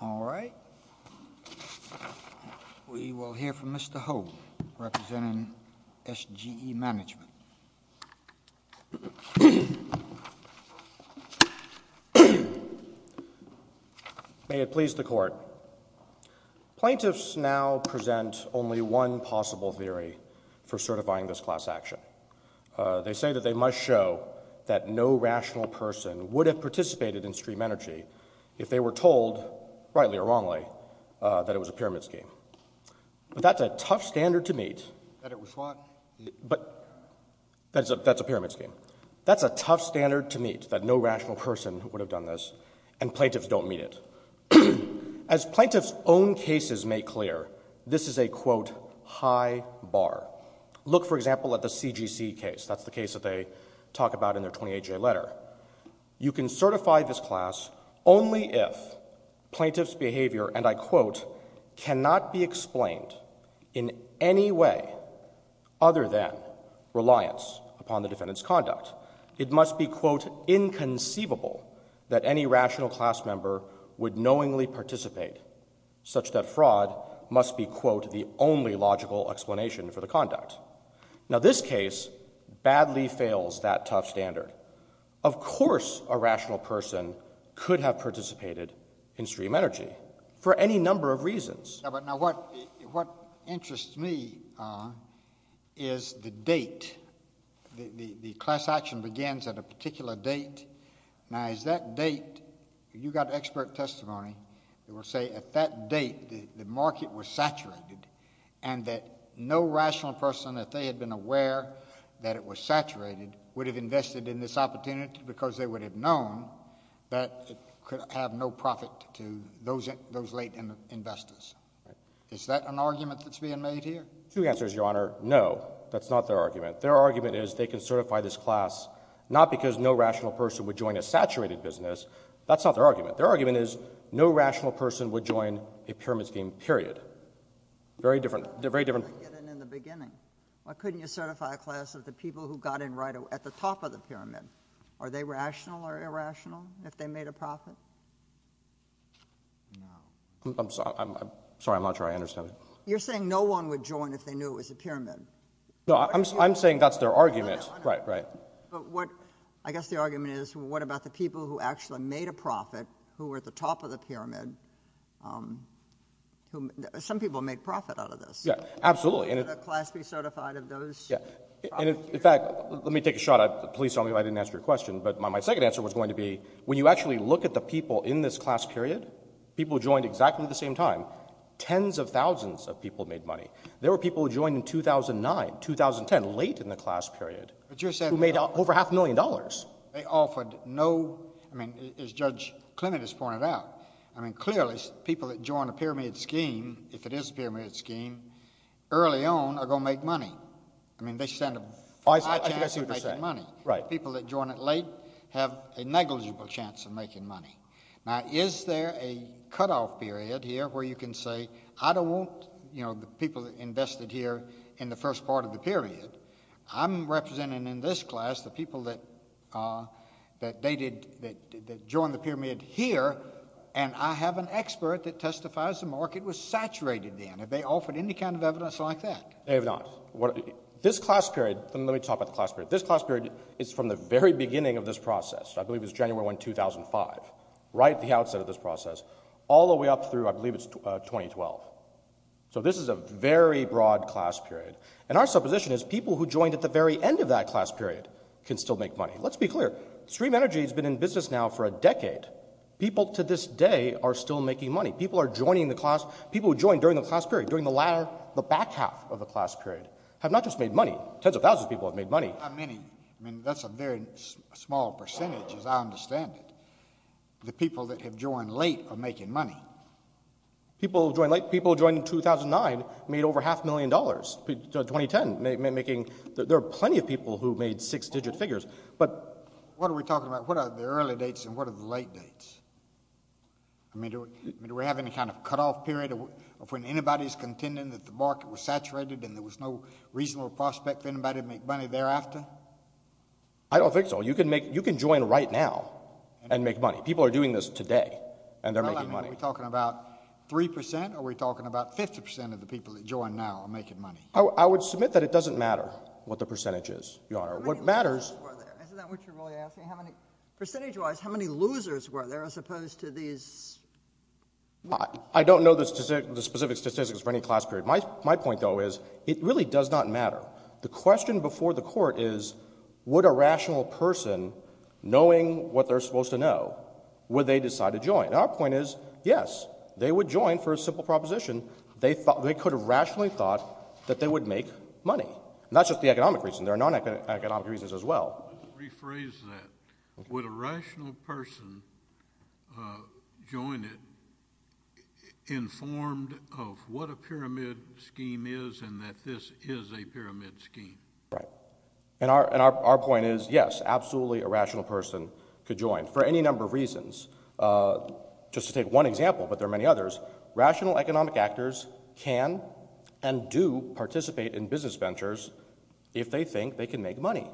All right. We will hear from Mr. Hope, representing S.G.E. Management. May it please the Court. Plaintiffs now present only one possible theory for certifying this class action. They say that they must show that no rational person would have participated in stream energy if they were told, rightly or wrongly, that it was a pyramid scheme. But that's a tough standard to meet. That's a pyramid scheme. That's a tough standard to meet, that no rational person would have done this, and plaintiffs don't meet it. As plaintiffs' own cases make clear, this is a, quote, high bar. Look, for example, at the C.G.C. case. That's the case that they talk about in their 28-J letter. You can certify this class only if plaintiff's behavior, and I quote, cannot be explained in any way other than reliance upon the defendant's conduct. It must be, quote, inconceivable that any rational class member would knowingly participate, such that fraud must be, quote, the only logical explanation for the conduct. Now, this case badly fails that tough standard. Of course a rational person could have participated in stream energy, for any number of reasons. Now, what interests me is the date. The class action begins at a particular date. Now, is that date, you got expert testimony that will say at that date the market was saturated, and that no rational person, if they had been aware that it was saturated, would have invested in this opportunity because they would have known that it could have no profit to those late investors. Is that an argument that's being made here? Two answers, Your Honor. No, that's not their argument. Their argument is they can certify this class not because no rational person would join a saturated business. That's not their argument. Their argument is no rational person would join a pyramid scheme, period. Very different. Very different. Why couldn't they get in in the beginning? Why couldn't you certify a class of the people who got in right at the top of the pyramid? Are they rational or irrational if they made a profit? No. I'm sorry. I'm not sure I understand that. You're saying no one would join if they knew it was a pyramid. No, I'm saying that's their argument. No, Your Honor. Right, right. But what, I guess the argument is, what about the people who actually made a profit, who were at the top of the pyramid, who, some people made profit out of this. Yeah, absolutely. Could a class be certified of those? Yeah. And in fact, let me take a shot. Please tell me if I didn't answer your question. But my second answer was going to be, when you actually look at the people in this class period, people who joined exactly at the same time, tens of thousands of people made money. There were people who joined in 2009, 2010, late in the class period, who made over half a million dollars. But you're saying they offered no, I mean, as Judge Clement has pointed out, I mean clearly people that join a pyramid scheme, if it is a pyramid scheme, early on are going to make money. I mean, they stand a high chance of making money. People that join it late have a negligible chance of making money. Now, is there a cutoff period here where you can say, I don't want, you know, the people that invested here in the first part of the period, I'm representing in this class, the people that joined the pyramid here, and I have an expert that testifies the market was saturated then. Have they offered any kind of evidence like that? They have not. This class period, let me talk about the class period. This class period is from the very beginning of this process. I believe it was January 1, 2005, right at the outset of this process, all the way up through, I believe it's 2012. So this is a very broad class period. And our supposition is people who joined at the very end of that class period can still make money. Let's be clear. Stream Energy has been in business now for a decade. People to this day are still making money. People are joining the class, people who joined during the class period have not just made money. Tens of thousands of people have made money. How many? I mean, that's a very small percentage, as I understand it. The people that have joined late are making money. People who joined late, people who joined in 2009 made over half a million dollars. 2010, making, there are plenty of people who made six-digit figures. But... What are we talking about? What are the early dates and what are the late dates? I mean, do we have any kind of cutoff period of when anybody's contending that the market was saturated and there was no reasonable prospect for anybody to make money thereafter? I don't think so. You can make, you can join right now and make money. People are doing this today and they're making money. Are we talking about three percent or are we talking about 50 percent of the people that join now are making money? I would submit that it doesn't matter what the percentage is, Your Honor. What matters... How many losers were there? Isn't that what you're really asking? How many, percentage-wise, how many losers were there as opposed to these... I don't know the specific statistics for any class period. My point, though, is it really does not matter. The question before the Court is would a rational person, knowing what they're supposed to know, would they decide to join? And our point is, yes, they would join for a simple proposition. They thought, they could have rationally thought that they would make money. And that's just the economic reason. There are non-economic reasons as well. Let's rephrase that. Would a rational person join it informed of what a pyramid scheme is and that this is a pyramid scheme? Right. And our point is, yes, absolutely a rational person could join for any number of reasons. Just to take one example, but there are many others, rational economic actors can and do participate in business ventures if they think they can make money.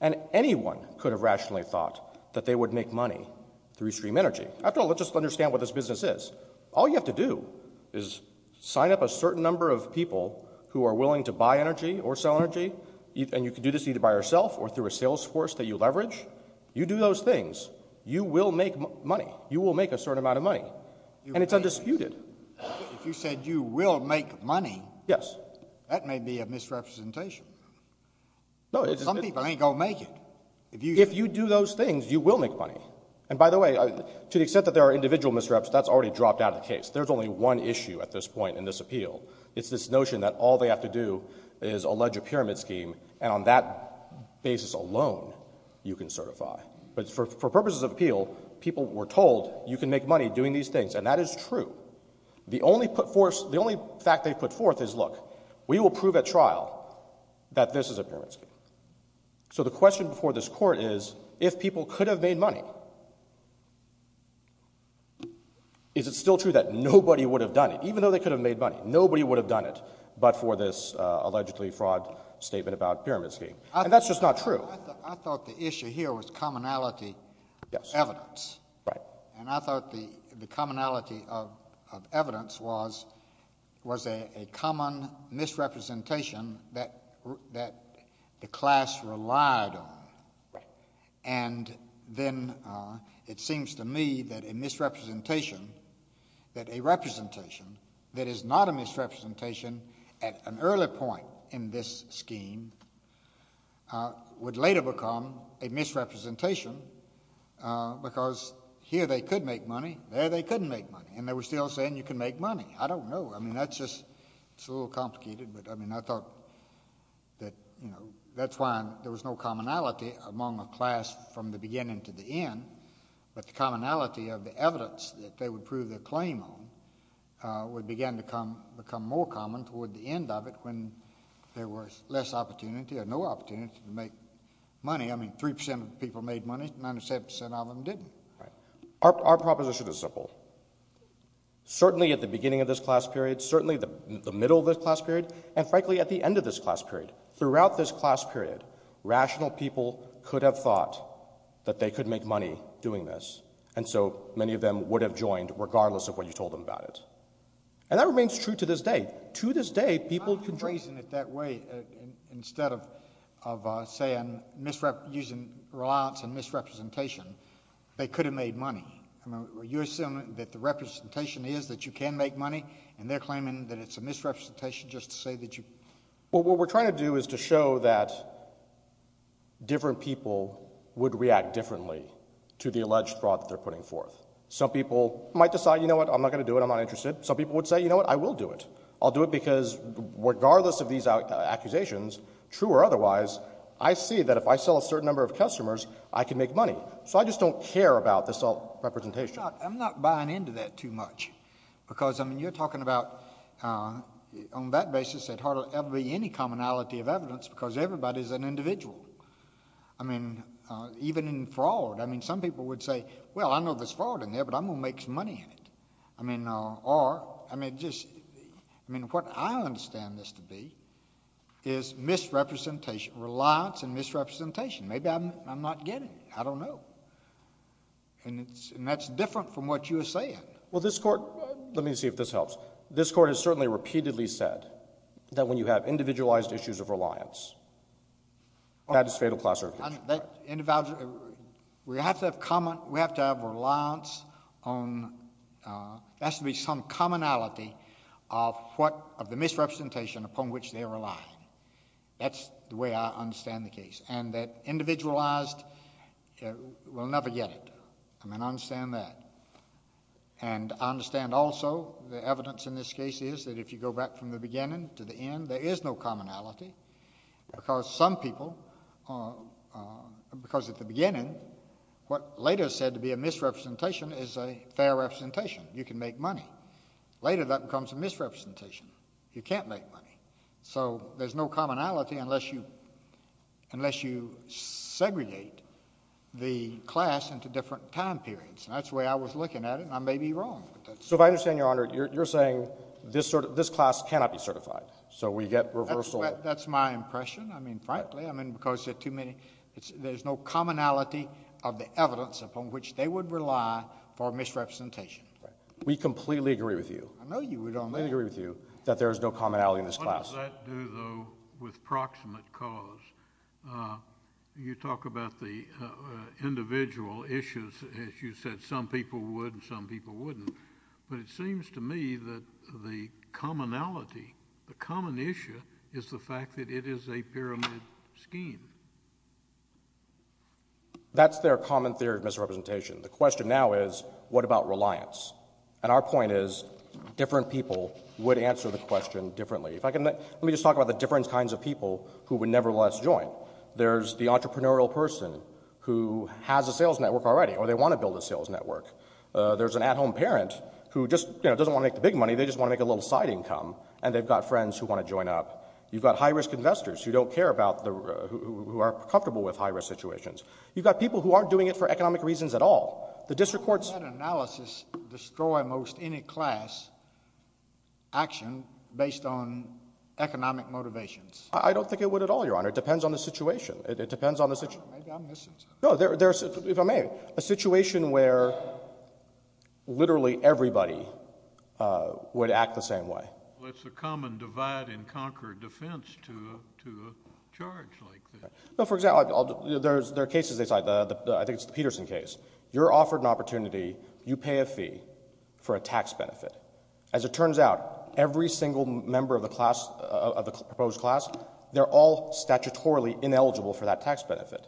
And anyone could have rationally thought that they would make money through stream energy. After all, let's just understand what this business is. All you have to do is sign up a certain number of people who are willing to buy energy or sell energy, and you can do this either by yourself or through a sales force that you leverage. You do those things, you will make money. You will make a certain amount of money. And it's undisputed. If you said you will make money, that may be a misrepresentation. Some people ain't going to make it. If you do those things, you will make money. And by the way, to the extent that there are individual misreps, that's already dropped out of the case. There's only one issue at this point in this appeal. It's this notion that all they have to do is allege a pyramid scheme, and on that basis alone, you can certify. But for purposes of appeal, people were told you can make money doing these things, and that is true. The only fact they put forth is, look, we will prove at trial that this is a pyramid scheme. So the question before this Court is, if people could have made money, is it still true that nobody would have done it? Even though they could have made money, nobody would have done it but for this allegedly fraud statement about pyramid scheme. And that's just not true. I thought the issue here was commonality of evidence. And I thought the commonality of evidence was a common misrepresentation that the class relied on. And then it seems to me that a misrepresentation, that a representation that is not a misrepresentation at an early point in this scheme, would later become a misrepresentation because here they could make money, there they couldn't make money. And they were still saying you can make money. I don't know. I mean, that's just a little complicated. But I mean, I thought that, you know, that's why there was no commonality among the class from the beginning to the end. But the commonality of the evidence that they would prove their claim on would begin to become more common toward the end of it when there was less opportunity or no opportunity to make money. I mean, 3% of the people made money, 97% of them didn't. Our proposition is simple. Certainly at the beginning of this class period, certainly the middle of this class period, and frankly at the end of this class period, throughout this class period, rational people could have thought that they could make money doing this. And so many of them would have joined regardless of what you told them about it. And that remains true to this day. To this day, people can... I'm not embracing it that way. Instead of saying misrep... using reliance and misrepresentation, they could have made money. I mean, are you assuming that the representation is that you can make money and they're claiming that it's a misrepresentation just to say that you... Well, what we're trying to do is to show that different people would react differently to the alleged fraud that they're putting forth. Some people might decide, you know what, I'm not going to do it. I'm not interested. Some people would say, you know what, I will do it. I'll do it because regardless of these accusations, true or otherwise, I see that if I sell a certain number of customers, I can make money. So I just don't care about this representation. I'm not buying into that too much because, I mean, you're talking about on that basis that hardly ever be any commonality of evidence because everybody's an individual. I mean, even in fraud, I mean, some people would say, well, I know there's fraud in there, but I'm not going to make money in it. I mean, or... I mean, what I understand this to be is misrepresentation, reliance and misrepresentation. Maybe I'm not getting it. I don't know. And that's different from what you're saying. Well, this Court... let me see if this helps. This Court has certainly repeatedly said that when you have individualized issues of reliance, that is fatal class reference. That individual... we have to have common... we have to have reliance on... there has to be some commonality of what... of the misrepresentation upon which they're relying. That's the way I understand the case. And that individualized... we'll never get it. I mean, I understand that. And I understand also the evidence in this case is that if you go back from the beginning to the end, there is no commonality, because some people... because at the beginning, what later is said to be a misrepresentation is a fair representation. You can make money. Later that becomes a misrepresentation. You can't make money. So there's no commonality unless you... unless you segregate the class into different time periods. And that's the way I was looking at it, and I may be wrong. So if I understand, Your Honor, you're saying this class cannot be certified. So we get reversal... That's my impression. I mean, frankly, I mean, because there are too many... there's no commonality of the evidence upon which they would rely for misrepresentation. We completely agree with you... I know you would on that. We completely agree with you that there is no commonality in this class. What does that do, though, with proximate cause? You talk about the individual issues, and you said some people would and some people wouldn't. But it seems to me that the commonality... the common issue is the fact that it is a pyramid scheme. That's their common theory of misrepresentation. The question now is, what about reliance? And our point is, different people would answer the question differently. If I can... let me just talk about the different kinds of people who would nevertheless join. There's the entrepreneurial person who has a sales network already, or they want to build a sales network. There's an at-home parent who just, you know, doesn't want to make the big money. They just want to make a little side income, and they've got friends who want to join up. You've got high-risk investors who don't care about the... who are comfortable with high-risk situations. You've got people who aren't doing it for economic reasons at all. The district courts... Does that analysis destroy most any class action based on economic motivations? I don't think it would at all, Your Honor. It depends on the situation. It depends on the... Maybe I'm missing something. No, there's... if I may, a situation where literally everybody would act the same way. Well, it's a common divide and conquer defense to a charge like this. No, for example, there are cases... I think it's the Peterson case. You're offered an opportunity. You pay a fee for a tax benefit. As it turns out, every single member of the proposed class, they're all statutorily ineligible for that tax benefit.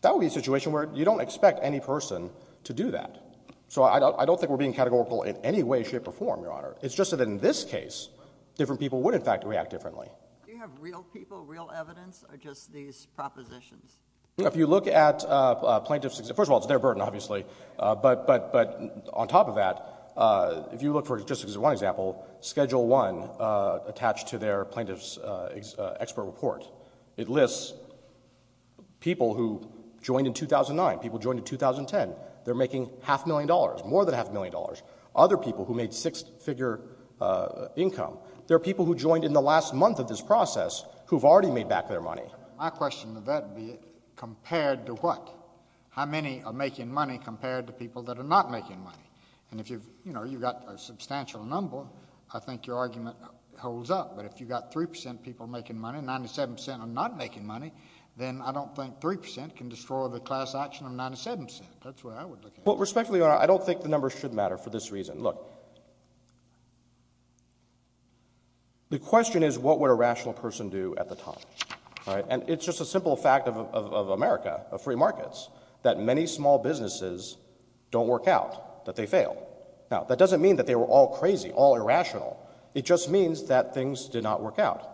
That would be a situation where you don't expect any person to do that. So I don't think we're being categorical in any way, shape, or form, Your Honor. It's just that in this case, different people would in fact react differently. Do you have real people, real evidence, or just these propositions? If you look at plaintiffs... first of all, it's their burden, obviously, but on top of that, if you look for just one example, Schedule 1 attached to their plaintiff's expert report, it lists people who joined in 2009, people who joined in 2010. They're making half a million dollars, more than half a million dollars. Other people who made six-figure income, they're people who joined in the last month of this process who've already made back their money. My question to that would be, compared to what? How many are making money compared to people that are not making money? And if you've... you know, you've got a substantial number, I think your argument holds up. But if you've got 3 percent people making money, 97 percent are not making money, then I don't think 3 percent can destroy the class action of 97 percent. That's the way I would look at it. Well, respectfully, Your Honor, I don't think the numbers should matter for this reason. Look, the question is, what would a rational person do at the top? All right? And it's just a simple fact of America, of free markets, that many small businesses don't work out, that they fail. Now, that doesn't mean that they were all crazy, all irrational. It just means that things did not work out.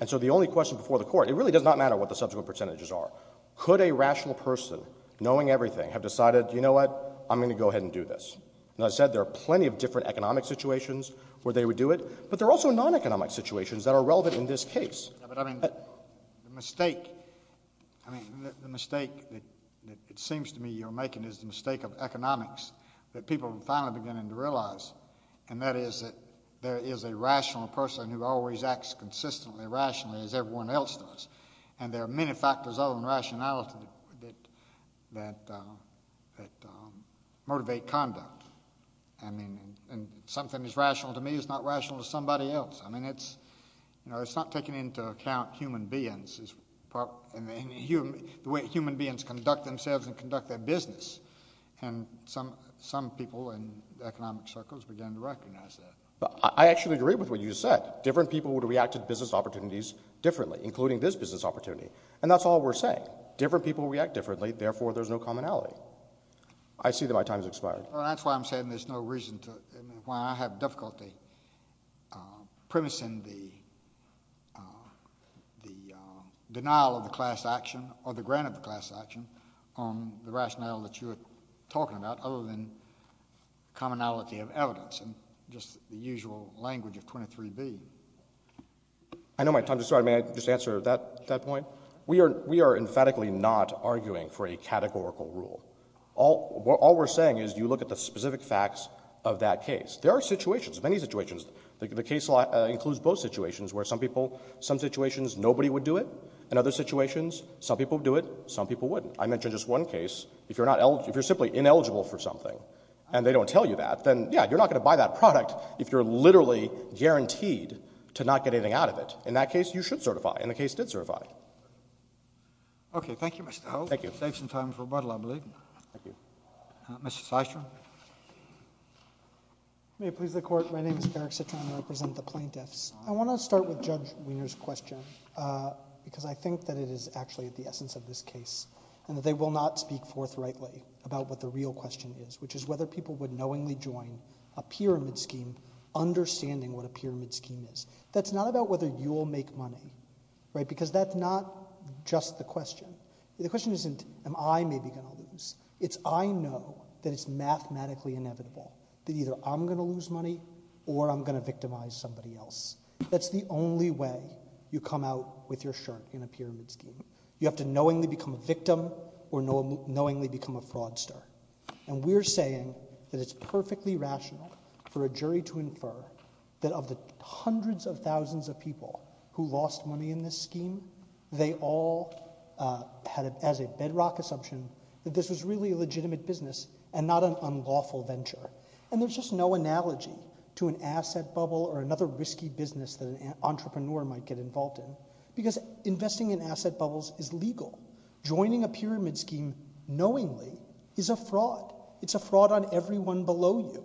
And so the only question before the Court... it really does not matter what the subsequent percentages are. Could a rational person, knowing everything, have decided, you know what, I'm going to go ahead and do this? And as I said, there are plenty of different economic situations where they would do it, but there are also non-economic situations that are relevant in this case. Yeah, but I mean, the mistake... I mean, the mistake that it seems to me you're making is the mistake of economics, that people are finally beginning to realize. And that is that there is a rational person who always acts consistently rationally, as everyone else does. And there are many factors other than rationality that motivate conduct. And something that's rational to me is not rational to somebody else. I mean, it's... you know, it's not taking into account human beings as... the way human beings conduct themselves and conduct their business. And some people in economic circles began to recognize that. I actually agree with what you said. Different people would react to business opportunities differently, including this business opportunity. And that's all we're saying. Different people react differently, therefore there's no commonality. I see that my time has expired. Well, that's why I'm saying there's no reason to... I mean, why I have difficulty premising the denial of the class action, or the grant of the class action, on the rationality that you were talking about, other than commonality of evidence, and just the usual language of 23B. I know my time has expired. May I just answer that point? We are emphatically not arguing for a categorical rule. All we're saying is you look at the specific facts of that case. There are situations, many situations. The case law includes both situations, where some people... some situations nobody would do it. In other situations, some people would do it, some people wouldn't. I mentioned just one case. If you're simply ineligible for something, and they don't tell you that, then yeah, you're not going to buy that product if you're literally guaranteed to not get anything out of it. In that case, you should certify, and the case did certify. Okay. Thank you, Mr. Hogue. Thank you. Saves some time for rebuttal, I believe. Thank you. Mr. Systrom? May it please the Court, my name is Eric Systrom. I represent the plaintiffs. I want to start with Judge Weiner's question, because I think that it is actually at the essence of this case, and that they will not speak forthrightly about what the real question is, which is whether people would knowingly join a pyramid scheme, understanding what a pyramid scheme is. That's not about whether you'll make money, right? Because that's not just the question. The question isn't, am I maybe going to lose? It's, I know that it's mathematically inevitable that either I'm going to lose money, or I'm going to victimize somebody else. That's the only way you come out with your shirt in a pyramid scheme. You have to knowingly become a victim, or knowingly become a fraudster. And we're saying that it's perfectly rational for a jury to infer that of the hundreds of thousands of people who lost money in this scheme, they all had as a bedrock assumption that this was really a legitimate business and not an unlawful venture. And there's just no analogy to an asset bubble or another risky business that an entrepreneur might get involved in, because investing in asset bubbles is legal. Joining a pyramid scheme knowingly is a fraud. It's a fraud on everyone below you.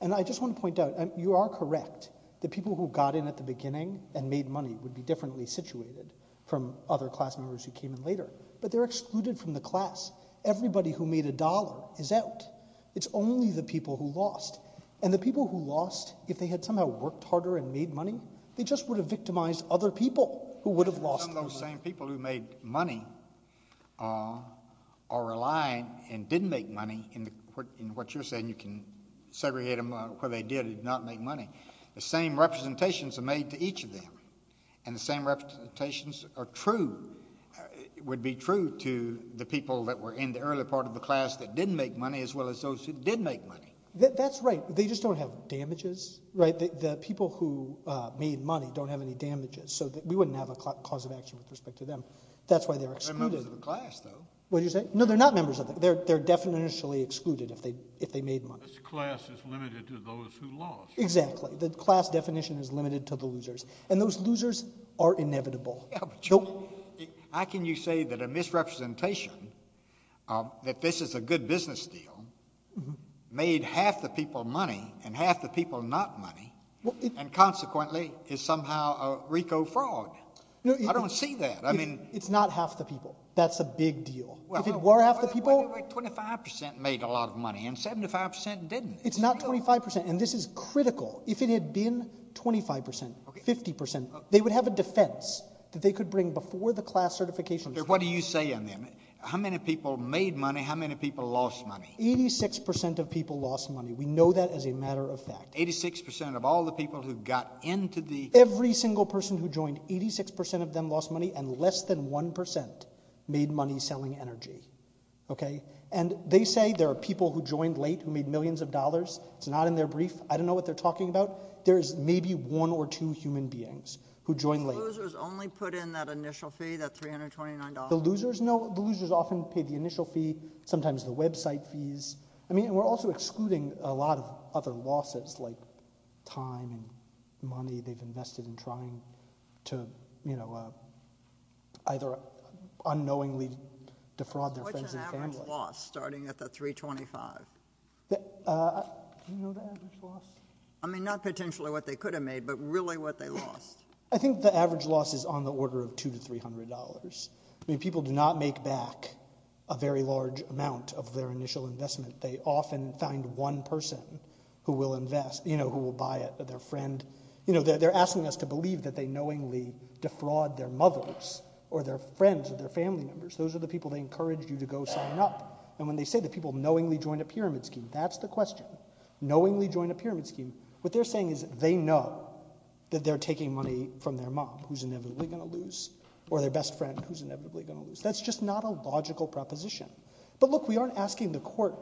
And I just want to point out, you are correct. The people who got in at the beginning and made money would be differently situated from other class members who came in later. But they're excluded from the class. Everybody who made a dollar is out. It's only the people who lost. And the people who lost, if they had somehow worked harder and made money, they just would have victimized other people who would have lost. Some of those same people who made money are relying, and didn't make money, in what you're saying, segregate them where they did and did not make money. The same representations are made to each of them. And the same representations are true, would be true to the people that were in the early part of the class that didn't make money, as well as those who did make money. That's right. They just don't have damages. The people who made money don't have any damages. So we wouldn't have a cause of action with respect to them. That's why they're excluded. They're members of the class, though. What did you say? No, they're not members of the class. They're definitionally excluded if they made money. This class is limited to those who lost. Exactly. The class definition is limited to the losers. And those losers are inevitable. How can you say that a misrepresentation, that this is a good business deal, made half the people money and half the people not money, and consequently is somehow a RICO fraud? I don't see that. It's not half the people. That's a big deal. If it were half the people... But 25% made a lot of money and 75% didn't. It's not 25%. And this is critical. If it had been 25%, 50%, they would have a defense that they could bring before the class certification. What do you say on that? How many people made money? How many people lost money? 86% of people lost money. We know that as a matter of fact. 86% of all the people who got into the... Every single person who joined, 86% of them lost money and less than 1% made money selling energy. And they say there are people who joined late who made millions of dollars. It's not in their brief. I don't know what they're talking about. There's maybe one or two human beings who joined late. The losers only put in that initial fee, that $329? The losers, no. The losers often paid the initial fee, sometimes the website fees. I mean, and we're also excluding a lot of other losses like time and money they've invested in trying to, you know, either unknowingly defraud their friends and family. What's an average loss starting at the $325? Do you know the average loss? I mean, not potentially what they could have made, but really what they lost. I think the average loss is on the order of $200 to $300. I mean, people do not make back a very large amount of their initial investment. They often find one person who will invest, you know, who will buy it, their friend. You know, they're asking us to believe that they knowingly defraud their mothers or their friends or their family members. Those are the people they encourage you to go sign up. And when they say that people knowingly join a pyramid scheme, that's the question. Knowingly join a pyramid scheme. What they're saying is they know that they're taking money from their mom, who's inevitably going to lose, or their best friend, who's inevitably going to lose. That's just not a logical proposition. But look, we aren't asking the court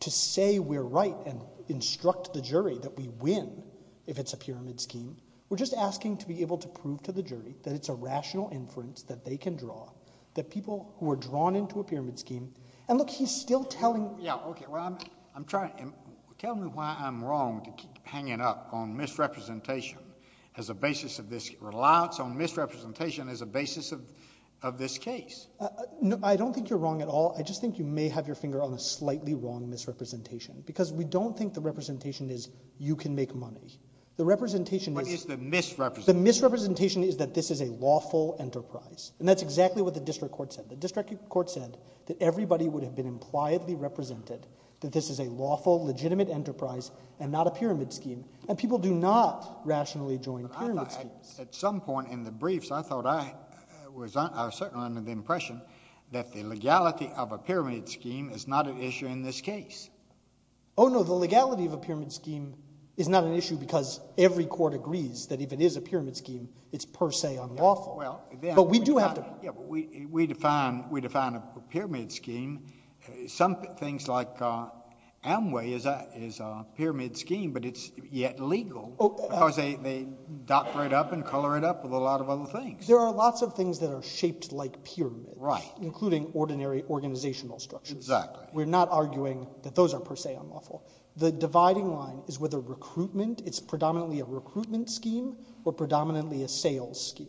to say we're right and instruct the jury that we win if it's a pyramid scheme. We're just asking to be able to prove to the jury that it's a rational inference that they can draw, that people who are drawn into a pyramid scheme... And look, he's still telling... Yeah, okay. Well, I'm trying... Tell me why I'm wrong to keep hanging up on misrepresentation as a basis of this... Reliance on misrepresentation as a basis of this case. I don't think you're wrong at all. I just think you may have your finger on a slightly wrong misrepresentation. Because we don't think the representation is you can make money. The representation is... What is the misrepresentation? The misrepresentation is that this is a lawful enterprise. And that's exactly what the district court said. The district court said that everybody would have been impliedly represented, that this is a lawful, legitimate enterprise, and not a pyramid scheme. And people do not rationally join pyramid schemes. At some point in the briefs, I thought I was certainly under the impression that the legality of a pyramid scheme is not an issue in this case. Oh, no. The legality of a pyramid scheme is not an issue because every court agrees that if it is a pyramid scheme, it's per se unlawful. But we do have to... Yeah, but we define a pyramid scheme. Some things like Amway is a pyramid scheme, but it's yet legal because they dot right up and color it up with a lot of other things. There are lots of things that are shaped like pyramids, including ordinary organizational structures. We're not arguing that those are per se unlawful. The dividing line is whether recruitment, it's predominantly a recruitment scheme or predominantly a sales scheme.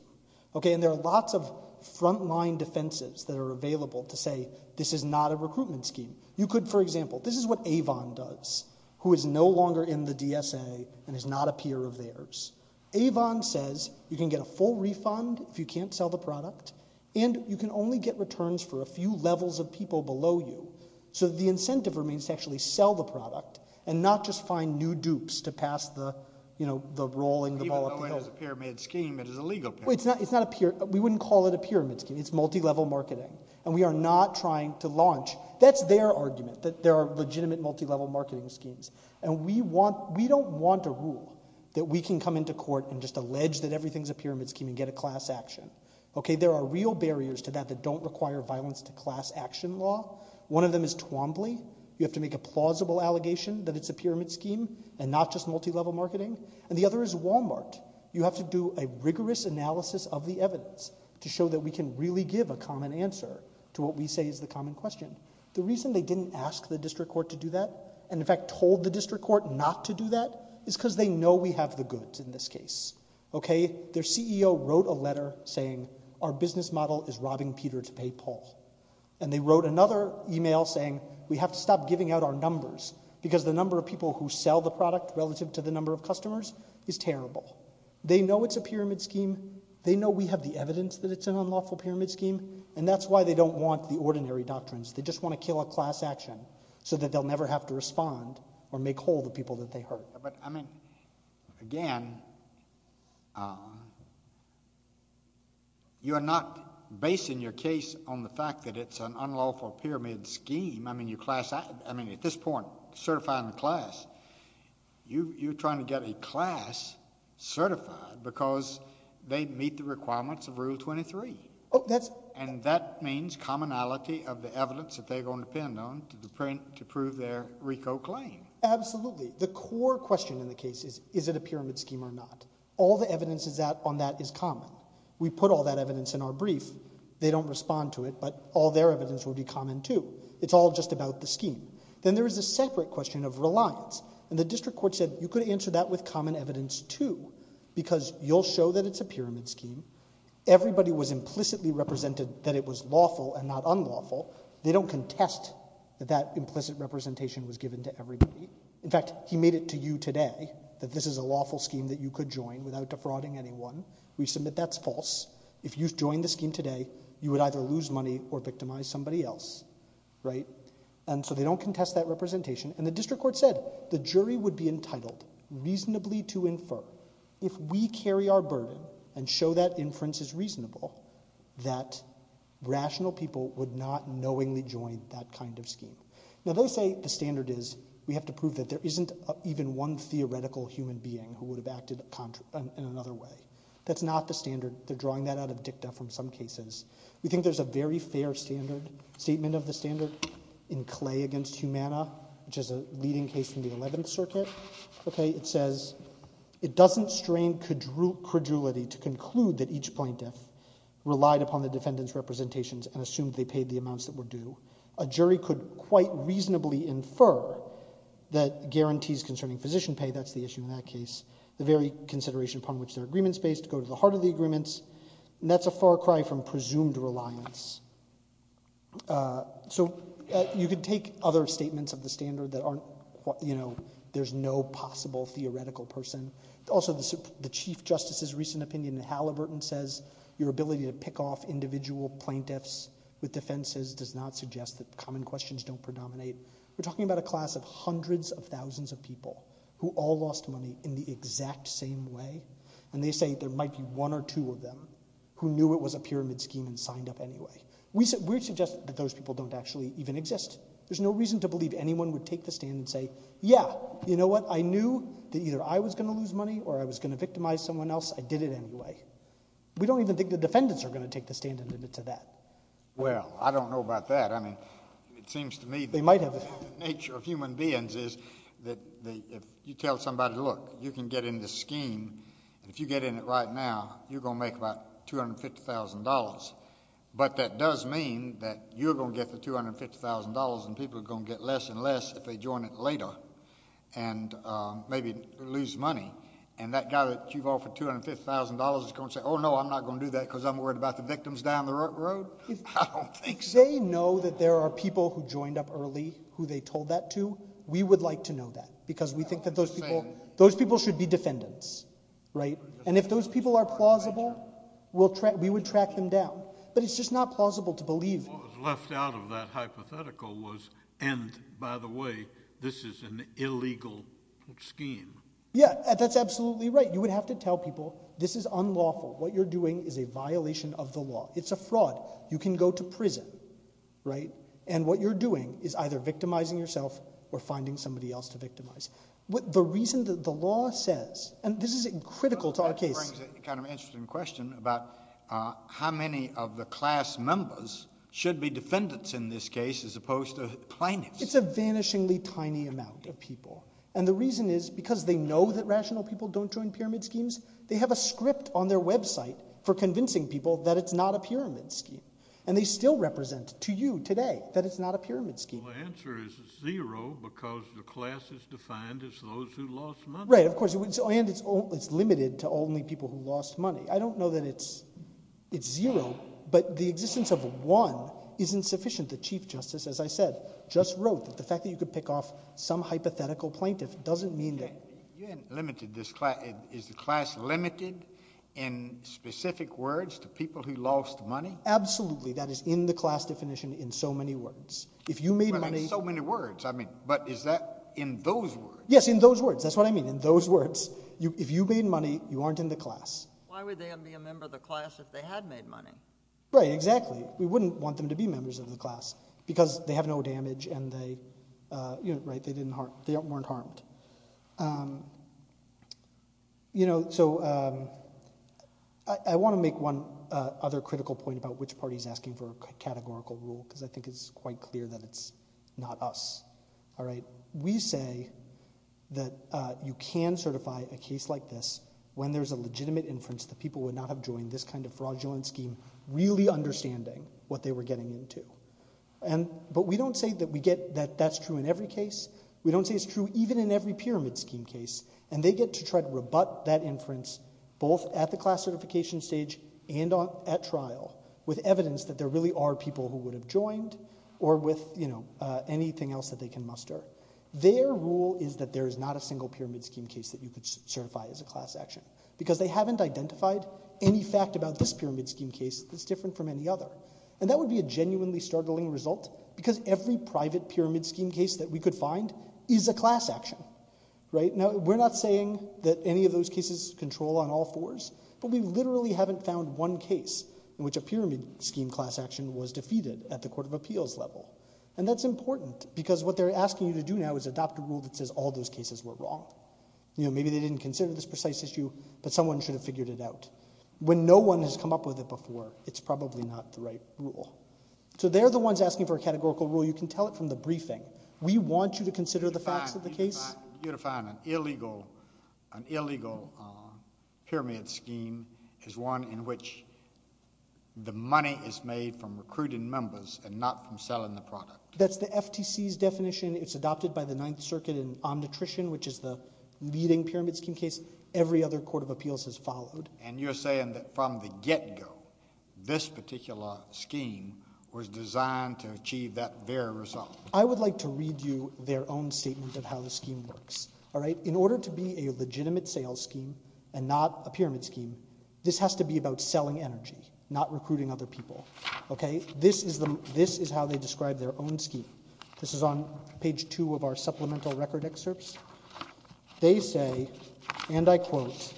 And there are lots of frontline defensives that are available to say, this is not a recruitment scheme. You could, for example, this is what Avon does, who is no longer in the DSA and is not a peer of theirs. Avon says, you can get a full refund if you can't sell the product, and you can only get returns for a few levels of people below you. So the incentive remains to actually sell the product and not just find new dupes to pass the rolling the ball up the hill. Even though it is a pyramid scheme, it is a legal pyramid scheme. It's not a pyramid. We wouldn't call it a pyramid scheme. It's multi-level marketing. And we are not trying to launch, that's their argument, that there are legitimate multi-level marketing schemes. And we don't want a rule that we can come into court and just allege that everything's a pyramid scheme and get a class action. There are real barriers to that that don't require violence to class action law. One of them is Twombly. You have to make a plausible allegation that it's a pyramid scheme and not just multi-level marketing. And the other is Walmart. You have to do a rigorous analysis of the evidence to show that we can really give a common answer to what we say is the common question. The reason they didn't ask the district court to do that, and in fact told the district court not to do that, is because they know we have the goods in this case. Their CEO wrote a letter saying, our business model is robbing Peter to pay Paul. And they wrote another email saying, we have to stop giving out our numbers because the number of people who sell the product relative to the number of customers is terrible. They know it's a unlawful pyramid scheme, and that's why they don't want the ordinary doctrines. They just want to kill a class action so that they'll never have to respond or make whole the people that they hurt. But, I mean, again, you're not basing your case on the fact that it's an unlawful pyramid scheme. I mean, at this point, certifying the class, you're trying to get a class certified because they meet the requirements of Rule 23. And that means commonality of the evidence that they're going to depend on to prove their RICO claim. Absolutely. The core question in the case is, is it a pyramid scheme or not? All the evidence on that is common. We put all that evidence in our brief. They don't respond to it, but all their evidence will be common, too. It's all just about the scheme. Then there is a separate question of reliance. And the district court said, you could answer that with common evidence, too, because you'll show that it's a pyramid scheme. Everybody was implicitly represented that it was lawful and not unlawful. They don't contest that implicit representation was given to everybody. In fact, he made it to you today that this is a lawful scheme that you could join without defrauding anyone. We submit that's false. If you join the scheme today, you would either lose money or victimize somebody else, right? And so they don't contest that representation. And the district court said the jury would be entitled reasonably to infer, if we carry our burden and show that inference is reasonable, that rational people would not knowingly join that kind of scheme. Now, they say the standard is we have to prove that there isn't even one theoretical human being who would have acted in another way. That's not the standard. They're drawing that out of dicta from some cases. We think there's a very fair statement of the standard in Clay v. Humana, which is a leading case from the 11th Circuit. It says, it doesn't strain credulity to conclude that each plaintiff relied upon the defendant's representations and assumed they paid the amounts that were due. A jury could quite reasonably infer that guarantees concerning physician pay, that's the issue in that case, the very consideration upon which their agreements based go to the heart of the agreements. And that's a far cry from presumed reliance. So, you could take other statements of the standard that aren't, you know, there's no possible theoretical person. Also, the Chief Justice's recent opinion in Halliburton says your ability to pick off individual plaintiffs with defenses does not suggest that common questions don't predominate. We're talking about a class of hundreds of thousands of people who all lost money in the exact same way. And they say there might be one or two of them who knew it was a pyramid scheme and signed up anyway. We suggest that those people don't actually even exist. There's no reason to believe anyone would take the stand and say, yeah, you know what, I knew that either I was going to lose money or I was going to victimize someone else, I did it anyway. We don't even think the defendants are going to take the stand and admit to that. Well, I don't know about that. I mean, it seems to me that the nature of human beings is that if you tell somebody, look, you can get in this scheme, and if you get in it right now, you're going to make about $250,000. But that does mean that you're going to get the $250,000 and people are going to get less and less if they join it later and maybe lose money. And that guy that you've offered $250,000 is going to say, oh, no, I'm not going to do that because I'm worried about the victims down the road? I don't think so. If they know that there are people who joined up early who they told that to, we would like to know that because we think that those people should be defendants, right? And if those people are plausible, we would track them down. But it's just not plausible to believe. What was left out of that hypothetical was, and by the way, this is an illegal scheme. Yeah, that's absolutely right. You would have to tell people, this is unlawful. What you're doing is you're going to prison, right? And what you're doing is either victimizing yourself or finding somebody else to victimize. The reason that the law says, and this is critical to our case. That brings a kind of interesting question about how many of the class members should be defendants in this case as opposed to plaintiffs? It's a vanishingly tiny amount of people. And the reason is because they know that rational people don't join pyramid schemes, they have a script on their website for convincing people that it's not a pyramid scheme. And they still represent to you today that it's not a pyramid scheme. The answer is zero, because the class is defined as those who lost money. Right, of course. And it's limited to only people who lost money. I don't know that it's zero, but the existence of one isn't sufficient. The Chief Justice, as I said, just wrote that the fact that you could pick off some hypothetical plaintiff doesn't mean that... You hadn't limited this class. Is the class limited in specific words to people who lost money? Absolutely. That is in the class definition in so many words. If you made money... But in so many words. I mean, but is that in those words? Yes, in those words. That's what I mean, in those words. If you made money, you aren't in the class. Why would they be a member of the class if they had made money? Right, exactly. We wouldn't want them to be members of the class, because they have no You know, so I want to make one other critical point about which party is asking for a categorical rule, because I think it's quite clear that it's not us. All right, we say that you can certify a case like this when there's a legitimate inference that people would not have joined this kind of fraudulent scheme, really understanding what they were getting into. But we don't say that we get that that's true in every case. We don't say it's true even in every pyramid scheme case. And they get to try to rebut that inference, both at the class certification stage and at trial, with evidence that there really are people who would have joined, or with, you know, anything else that they can muster. Their rule is that there is not a single pyramid scheme case that you could certify as a class action, because they haven't identified any fact about this pyramid scheme case that's different from any other. And that would be a genuinely startling result, because every private pyramid scheme case that we could find is a class action, right? Now, we're not saying that any of those cases control on all fours, but we literally haven't found one case in which a pyramid scheme class action was defeated at the Court of Appeals level. And that's important, because what they're asking you to do now is adopt a rule that says all those cases were wrong. You know, maybe they didn't consider this precise issue, but someone should have figured it out. When no one has come up with it before, it's probably not the right rule. So they're the ones asking for a categorical rule. You can tell it from the briefing. We want you to consider the facts of the case. You define an illegal pyramid scheme as one in which the money is made from recruiting members and not from selling the product. That's the FTC's definition. It's adopted by the Ninth Circuit in Omnitrition, which is the leading pyramid scheme case. Every other Court of Appeals has followed. And you're saying that from the get-go, this particular scheme was designed to achieve that very result? I would like to read you their own statement of how the scheme works, all right? In order to be a legitimate sales scheme and not a pyramid scheme, this has to be about selling energy, not recruiting other people, okay? This is how they describe their own scheme. This is on page 2 of our supplemental record excerpts. They say, and I quote,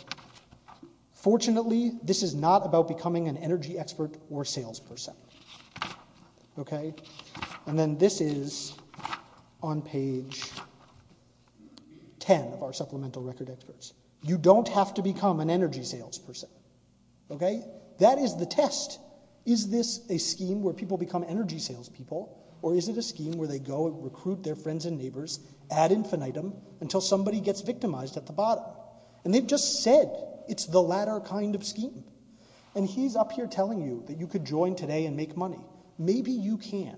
fortunately, this is not about becoming an energy expert or salesperson, okay? And then this is on page 10 of our supplemental record excerpts. You don't have to become an energy salesperson, okay? That is the test. Is this a scheme where people become energy salespeople, or is it a scheme where they go and recruit their friends and neighbors ad infinitum until somebody gets victimized at the bottom? And they've just said it's the latter kind of scheme. And he's up here telling you that you could join today and make money. Maybe you can.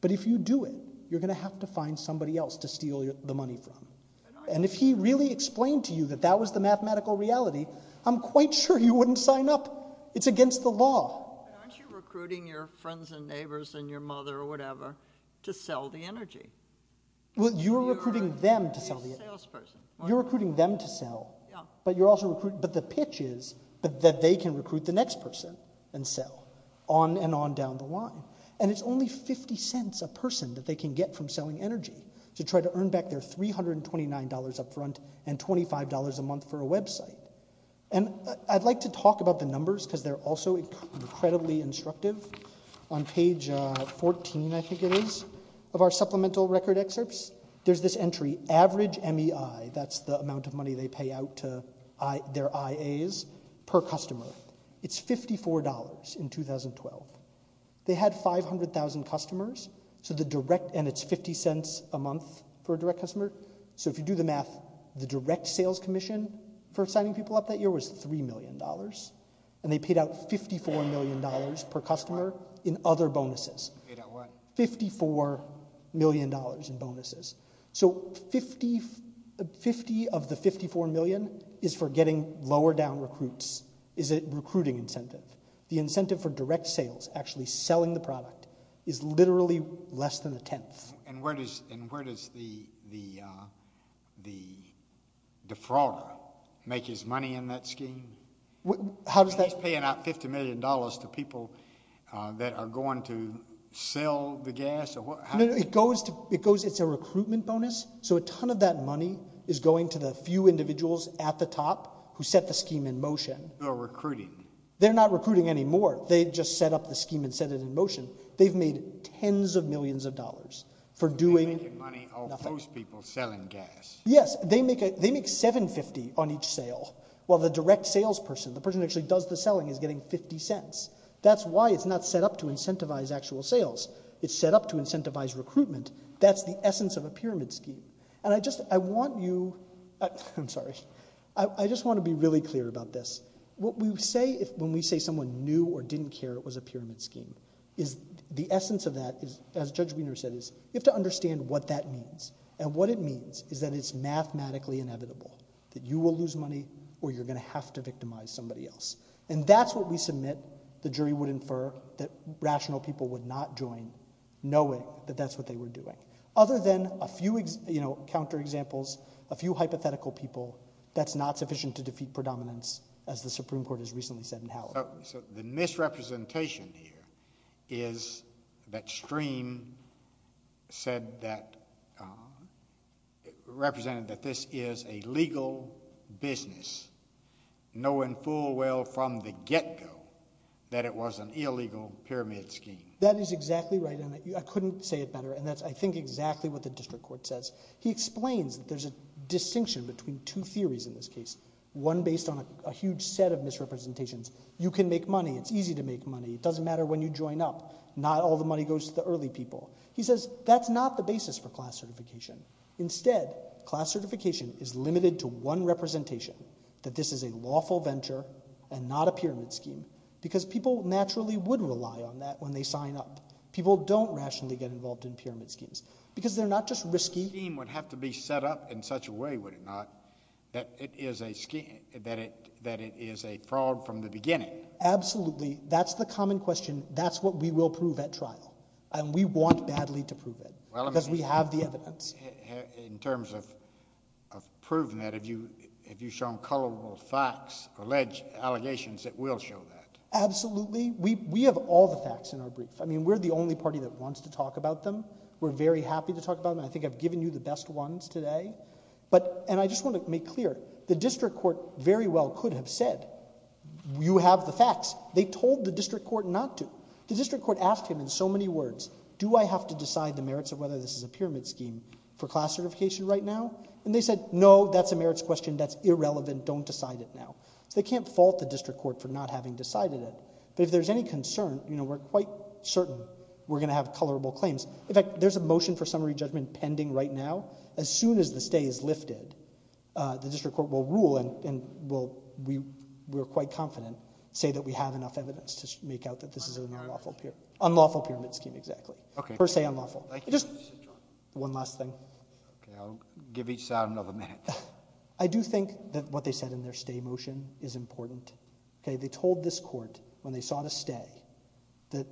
But if you do it, you're going to have to find somebody else to steal the money from. And if he really explained to you that that was the mathematical reality, I'm quite sure you wouldn't sign up. It's against the law. But aren't you recruiting your friends and neighbors and your mother or whatever to sell the energy? Well, you're recruiting them to sell the energy. You're a salesperson. You're recruiting them to sell. Yeah. But you're also recruiting, but the pitch is that they can recruit the next person and sell on and on down the line. And it's only 50 cents a person that they can get from selling energy to try to earn back their $329 up front and $25 a month for a website. And I'd like to talk about the numbers, because they're also incredibly instructive. On page 14, I think it is, of our supplemental record excerpts, there's this entry, average MEI, that's the amount of money they pay out to their IAs, per customer. It's $54 in 2012. They had 500,000 customers, and it's 50 cents a month for a direct customer. So if you do the math, the direct sales commission for signing people up that year was $3 million. And they paid out $54 million per customer in other bonuses. Paid out what? $54 million in bonuses. So 50 of the 54 million is for getting lower down recruits, is a recruiting incentive. The incentive for direct sales, actually selling the product, is literally less than a tenth. And where does the defrauder make his money in that scheme? How does that? He's paying out $50 million to people that are going to sell the gas? No, it goes, it's a recruitment bonus. So a ton of that money is going to the few individuals at the top who set the scheme in motion. Who are recruiting? They're not recruiting anymore. They just set up the scheme and set it in motion. They've made tens of millions of dollars for doing nothing. They make the money off those people selling gas. Yes, they make $7.50 on each sale, while the direct sales person, the person who actually does the selling, is getting 50 cents. That's why it's not set up to incentivize actual sales. It's set up to incentivize recruitment. That's the essence of a pyramid scheme. And I just, I want you, I'm sorry, I just want to be really clear about this. What we do, the essence of that is, as Judge Wiener said, is you have to understand what that means. And what it means is that it's mathematically inevitable that you will lose money or you're going to have to victimize somebody else. And that's what we submit, the jury would infer, that rational people would not join, knowing that that's what they were doing. Other than a few, you know, counter examples, a few hypothetical people, that's not sufficient to defeat predominance, as the Supreme Court has recently said in Howard. So the misrepresentation here is that Stream said that, represented that this is a legal business, knowing full well from the get-go that it was an illegal pyramid scheme. That is exactly right, and I couldn't say it better, and that's, I think, exactly what the District Court says. He explains that there's a distinction between two theories in this case, one based on a huge set of misrepresentations. You can make money, it's easy to make money, it doesn't matter when you join up, not all the money goes to the early people. He says that's not the basis for class certification. Instead, class certification is limited to one representation, that this is a lawful venture and not a pyramid scheme, because people naturally would rely on that when they sign up. People don't rationally get involved in pyramid schemes, because they're not just risky. The scheme would have to be set up in such a way, would it not, that it is a fraud from the beginning? Absolutely. That's the common question. That's what we will prove at trial, and we want badly to prove it, because we have the evidence. In terms of proving that, have you shown colorable facts, alleged allegations that will show that? Absolutely. We have all the facts in our brief. I mean, we're the only party that wants to talk about them, and I think I've given you the best ones today. I just want to make clear, the district court very well could have said, you have the facts. They told the district court not to. The district court asked him in so many words, do I have to decide the merits of whether this is a pyramid scheme for class certification right now? They said, no, that's a merits question, that's irrelevant, don't decide it now. They can't fault the district court for not having decided it. If there's any concern, we're quite certain we're going to have colorable claims. In fact, there's a motion for summary judgment pending right now. As soon as the stay is lifted, the district court will rule, and we're quite confident, say that we have enough evidence to make out that this is an unlawful pyramid scheme, exactly. Per se unlawful. One last thing. Okay, I'll give each side another minute. I do think that what they said in their stay motion is important. They told this court when they saw the stay, that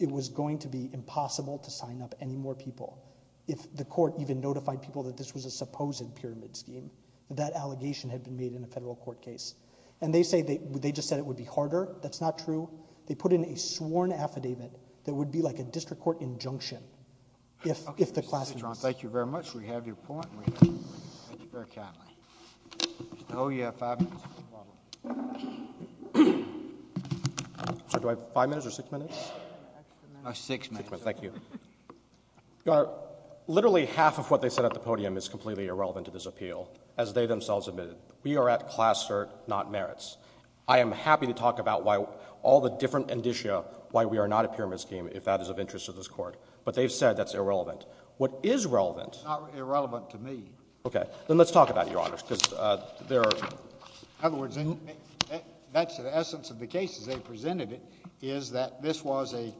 it was going to be impossible to sign up any more people if the court even notified people that this was a supposed pyramid scheme. That allegation had been made in a federal court case. They just said it would be harder. That's not true. They put in a sworn affidavit that would be like a district court injunction if the class served not merits. I am happy to talk about all the different indicia why we are not a pyramid scheme if that is of interest to this court, but they've said that's irrelevant. What is relevant. It's not irrelevant to me. Okay, then let's talk about it, Your Honor, because there are. In other words, that's the essence of the cases they presented is that this was an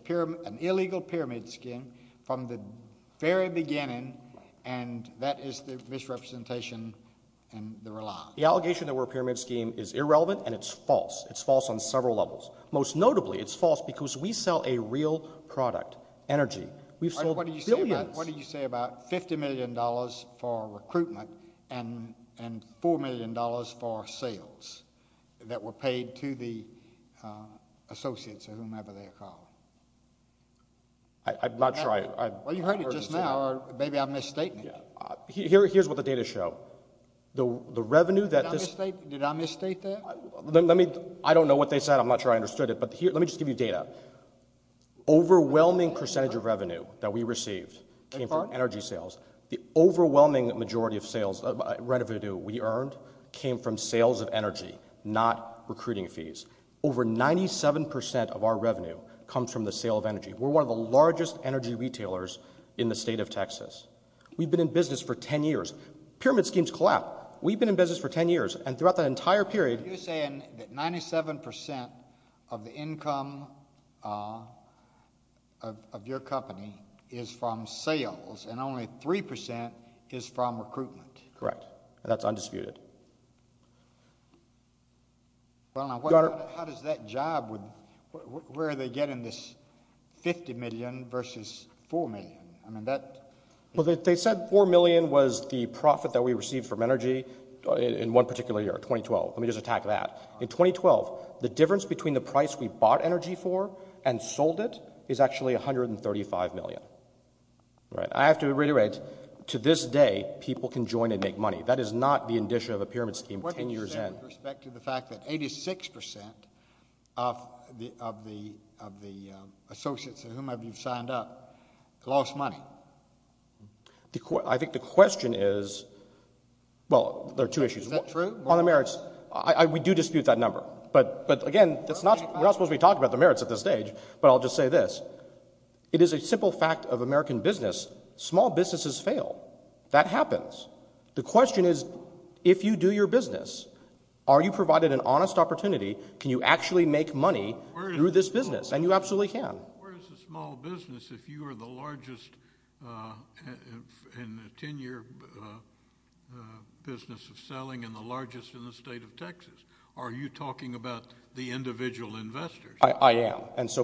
illegal pyramid scheme from the very beginning, and that is the misrepresentation and the rely. The allegation that we're a pyramid scheme is irrelevant, and it's false. It's false on several levels. Most notably, it's false because we sell a real product, energy. We've got billions. What do you say about $50 million for recruitment and $4 million for sales that were paid to the associates or whomever they are called? I'm not sure I've heard this. Well, you've heard it just now, or maybe I'm misstating it. Here's what the data show. The revenue that this. Did I misstate that? I don't know what they said. I'm not sure I understood it, but let me just give you came from energy sales. The overwhelming majority of sales revenue we earned came from sales of energy, not recruiting fees. Over 97% of our revenue comes from the sale of energy. We're one of the largest energy retailers in the state of Texas. We've been in business for 10 years. Pyramid schemes collapse. We've been in business for 10 years, and throughout the entire period. You're saying that 97% of the income of your company is from sales and only 3% is from recruitment. Correct. That's undisputed. How does that job, where are they getting this $50 million versus $4 million? They said $4 million was the profit that we received from energy in one particular year, 2012. Let me just attack that. In 2012, the difference between the price we bought energy for and sold it is actually $135 million. I have to reiterate, to this day, people can join and make money. That is not the indicia of a pyramid scheme 10 years in. What do you say with respect to the fact that 86% of the associates in whom you've signed up lost money? I think the question is, well, there are two issues. Is that true? On the merits, we do dispute that number. But again, we're not supposed to be talking about the merits at this stage, but I'll just say this. It is a simple fact of American business, small businesses fail. That happens. The question is, if you do your business, are you provided an honest opportunity? Can you actually make money through this business? And you absolutely can. Where is the small business if you are the largest in a 10-year business of selling and the largest in the state of Texas? Are you talking about the individual investors? I am. So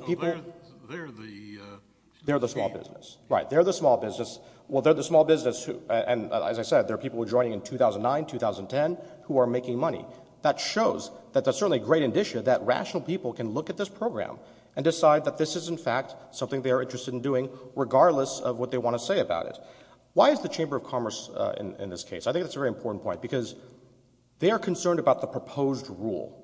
they're the small business. Right. They're the small business. Well, they're the small business, and as I said, there are people who are joining in 2009, 2010, who are making money. That shows that there's certainly a great indicia that rational people can look at this program and decide that this is, in fact, something they are interested in doing regardless of what they want to say about it. Why is the Chamber of Commerce in this case? I think that's a very important point because they are concerned about the proposed rule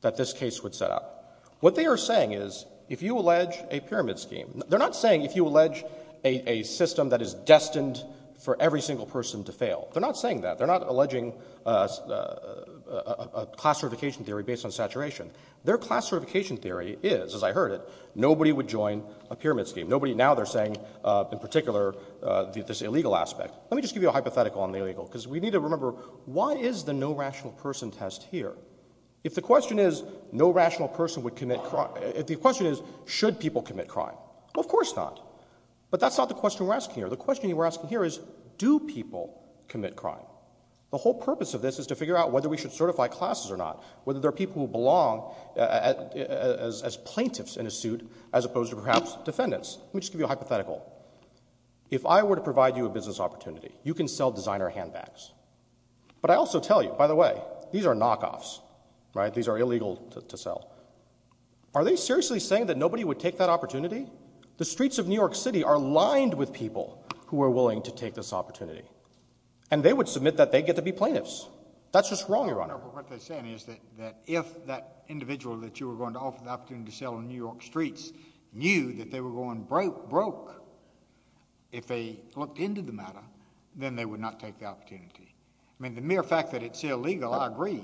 that this case would set up. What they are saying is, if you allege a pyramid scheme, they're not saying if you allege a system that is destined for every single person to fail. They're not saying that. They're not alleging a class certification theory based on saturation. Their class certification theory is, as I heard it, nobody would join a pyramid scheme. Now they're saying, in particular, this illegal aspect. Let me just give you a hypothetical on the illegal because we need to remember, why is the no rational person test here? If the question is, should people commit crime? Of course not. But that's not the question we're asking here. The question we're asking here is, do people commit crime? The whole purpose of this is to figure out whether we should certify classes or not, whether there are people who belong as plaintiffs in a suit as opposed to, perhaps, defendants. Let me just give you a hypothetical. If I were to provide you a business opportunity, you can sell designer handbags. But I also tell you, by the way, these are knockoffs. These are illegal to sell. Are they seriously saying that nobody would take that opportunity? The streets of New York City are lined with people who are willing to take this opportunity. And they would submit that they get to be plaintiffs. That's just wrong, Your Honor. But what they're saying is that if that individual that you were going to offer the opportunity to sell on New York streets knew that they were going broke, broke, if they looked into the matter, then they would not take the opportunity. I mean, the mere fact that it's illegal, I agree.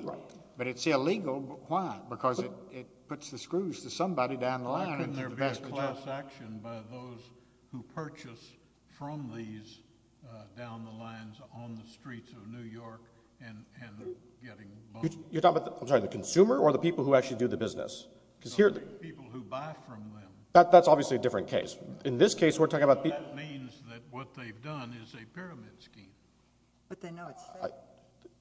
But it's illegal, but why? Because it puts the screws to somebody down the line. Why couldn't there be a class action by those who purchase from these down the lines on the streets of New York and getting boned? You're talking about the consumer or the people who actually do the business? The people who buy from them. That's obviously a different case. That means that what they've done is a pyramid scheme. But they know it's fake.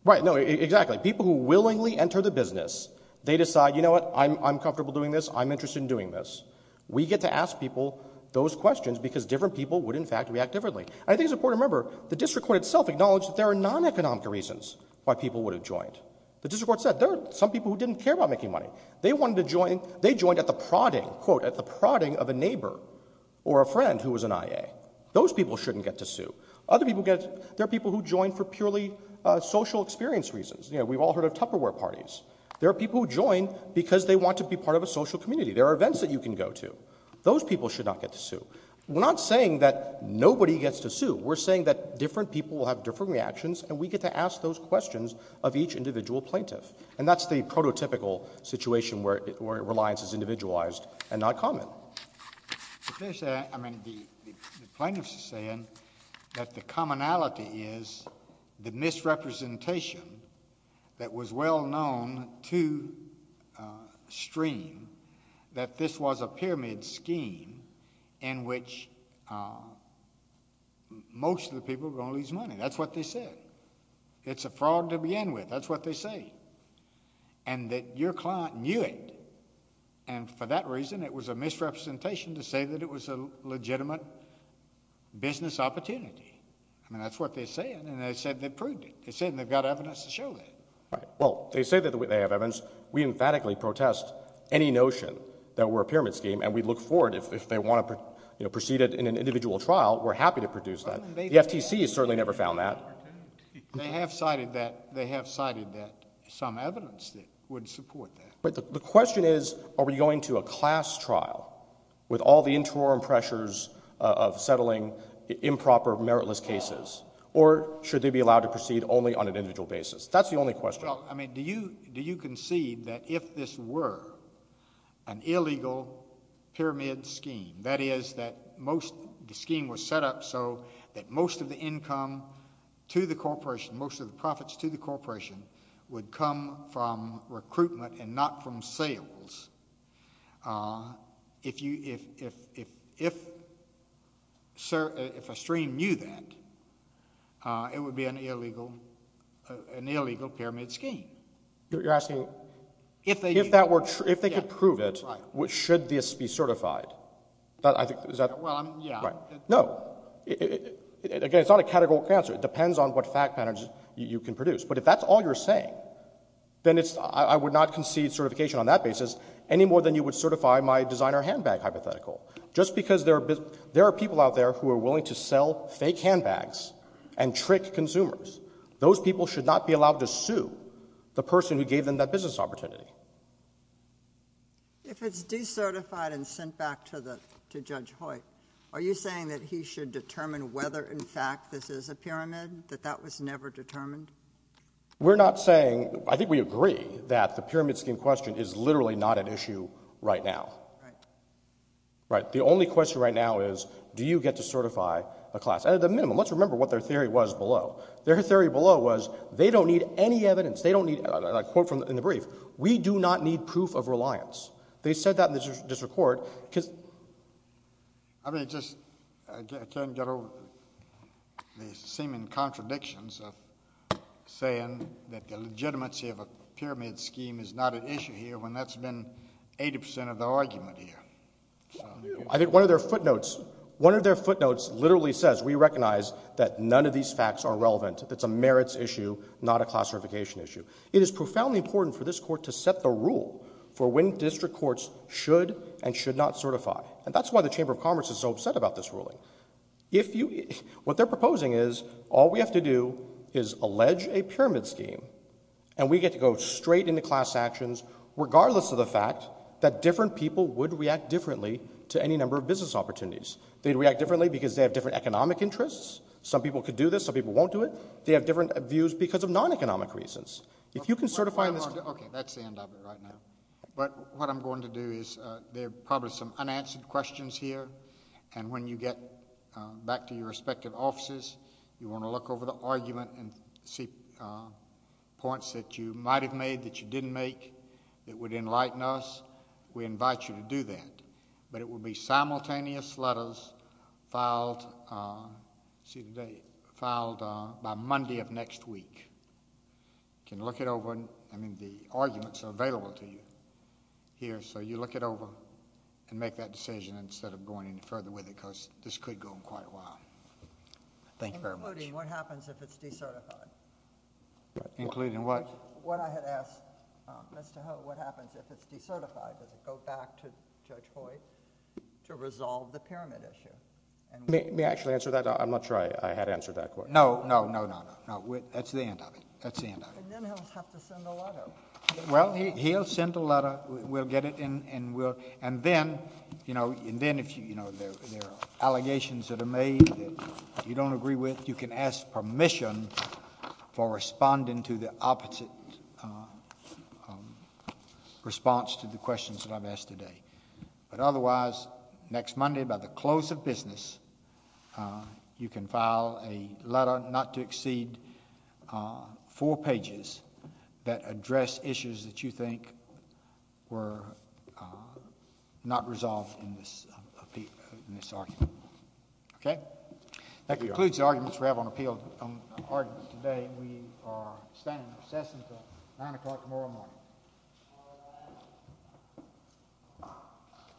Right, no, exactly. People who willingly enter the business, they decide, you know what, I'm comfortable doing this, I'm interested in doing this. We get to ask people those questions because different people would, in fact, react differently. I think it's important to remember the district court itself acknowledged that there are non-economic reasons why people would have joined. The district court said there are some people who didn't care about making money. They joined at the prodding, quote, at the prodding of a neighbor or a friend who was an IA. Those people shouldn't get to sue. There are people who join for purely social experience reasons. You know, we've all heard of Tupperware parties. There are people who join because they want to be part of a social community. There are events that you can go to. Those people should not get to sue. We're not saying that nobody gets to sue. We're saying that different people will have different reactions and we get to ask those questions of each individual plaintiff. And that's the prototypical situation where reliance is individualized and not common. The plaintiffs are saying that the commonality is the misrepresentation that was well known to stream that this was a pyramid scheme in which most of the people are going to lose money. That's what they said. It's a fraud to begin with. That's what they say. And that your client knew it. And for that reason, it was a misrepresentation to say that it was a legitimate business opportunity. I mean, that's what they're saying. And they said they proved it. They said they've got evidence to show that. Well, they say that they have evidence. We emphatically protest any notion that we're a pyramid scheme and we look forward if they want to proceed in an individual trial, we're happy to produce that. The FTC has certainly never found that. They have cited that some evidence that would support that. But the question is, are we going to a class trial with all the interim pressures of settling improper, meritless cases? Or should they be allowed to proceed only on an individual basis? That's the only question. Well, I mean, do you concede that if this were an illegal pyramid scheme, that is that the scheme was set up so that most of the income to the corporation, most of the profits to the corporation, would come from recruitment and not from sales, if a stream knew that, it would be an illegal pyramid scheme? You're asking if they could prove it, should this be certified? Well, yeah. No. Again, it's not a categorical answer. It depends on what fact patterns you can produce. But if that's all you're saying, then I would not concede certification on that basis any more than you would certify my designer handbag hypothetical. Just because there are people out there who are willing to sell fake handbags and trick consumers, those people should not be allowed to sue the person who gave them that business opportunity. If it's decertified and sent back to Judge Hoyt, are you saying that he should determine whether, in fact, this is a pyramid, that that was never determined? We're not saying — I think we agree that the pyramid scheme question is literally not an issue right now. Right. The only question right now is, do you get to certify a class? At a minimum, let's remember what their theory was below. Their theory below was, they don't need any evidence. They don't need — and I quote from the brief, we do not need proof of reliance. They said that in the district court because — I mean, it just — I can't get over the seeming contradictions of saying that the argument here. I think one of their footnotes — one of their footnotes literally says, we recognize that none of these facts are relevant. It's a merits issue, not a class certification issue. It is profoundly important for this Court to set the rule for when district courts should and should not certify. And that's why the Chamber of Commerce is so upset about this ruling. If you — what they're proposing is, all we have to do is allege a pyramid scheme, and we get to go straight into class actions, regardless of the fact that different people would react differently to any number of business opportunities. They'd react differently because they have different economic interests. Some people could do this. Some people won't do it. They have different views because of non-economic reasons. If you can certify this — Okay, that's the end of it right now. But what I'm going to do is, there are probably some unanswered questions here, and when you get back to your respective offices, you want to look over the argument and see points that you might have made that you didn't make that would enlighten us. We invite you to do that. But it will be simultaneous letters filed by Monday of next week. You can look it over. I mean, the arguments are available to you here, so you look it over and make that decision instead of going any further with it Thank you very much. Including what happens if it's decertified? Including what? What I had asked Mr. Ho, what happens if it's decertified? Does it go back to Judge Boyd to resolve the pyramid issue? May I actually answer that? I'm not sure I had answered that question. No, no, no, no, no. That's the end of it. That's the end of it. And then he'll have to send a letter. Well, he'll send a letter. We'll get it, and then, you know, there are allegations that are made that you don't agree with. I'm not sure if you can ask permission for responding to the opposite response to the questions that I've asked today. But otherwise, next Monday, by the close of business, you can file a letter not to exceed four pages that address issues that you think were not resolved in this argument. Okay? Thank you, Your Honor. That concludes the arguments we have on appeals today. We are staying in obsession until 9 o'clock tomorrow morning.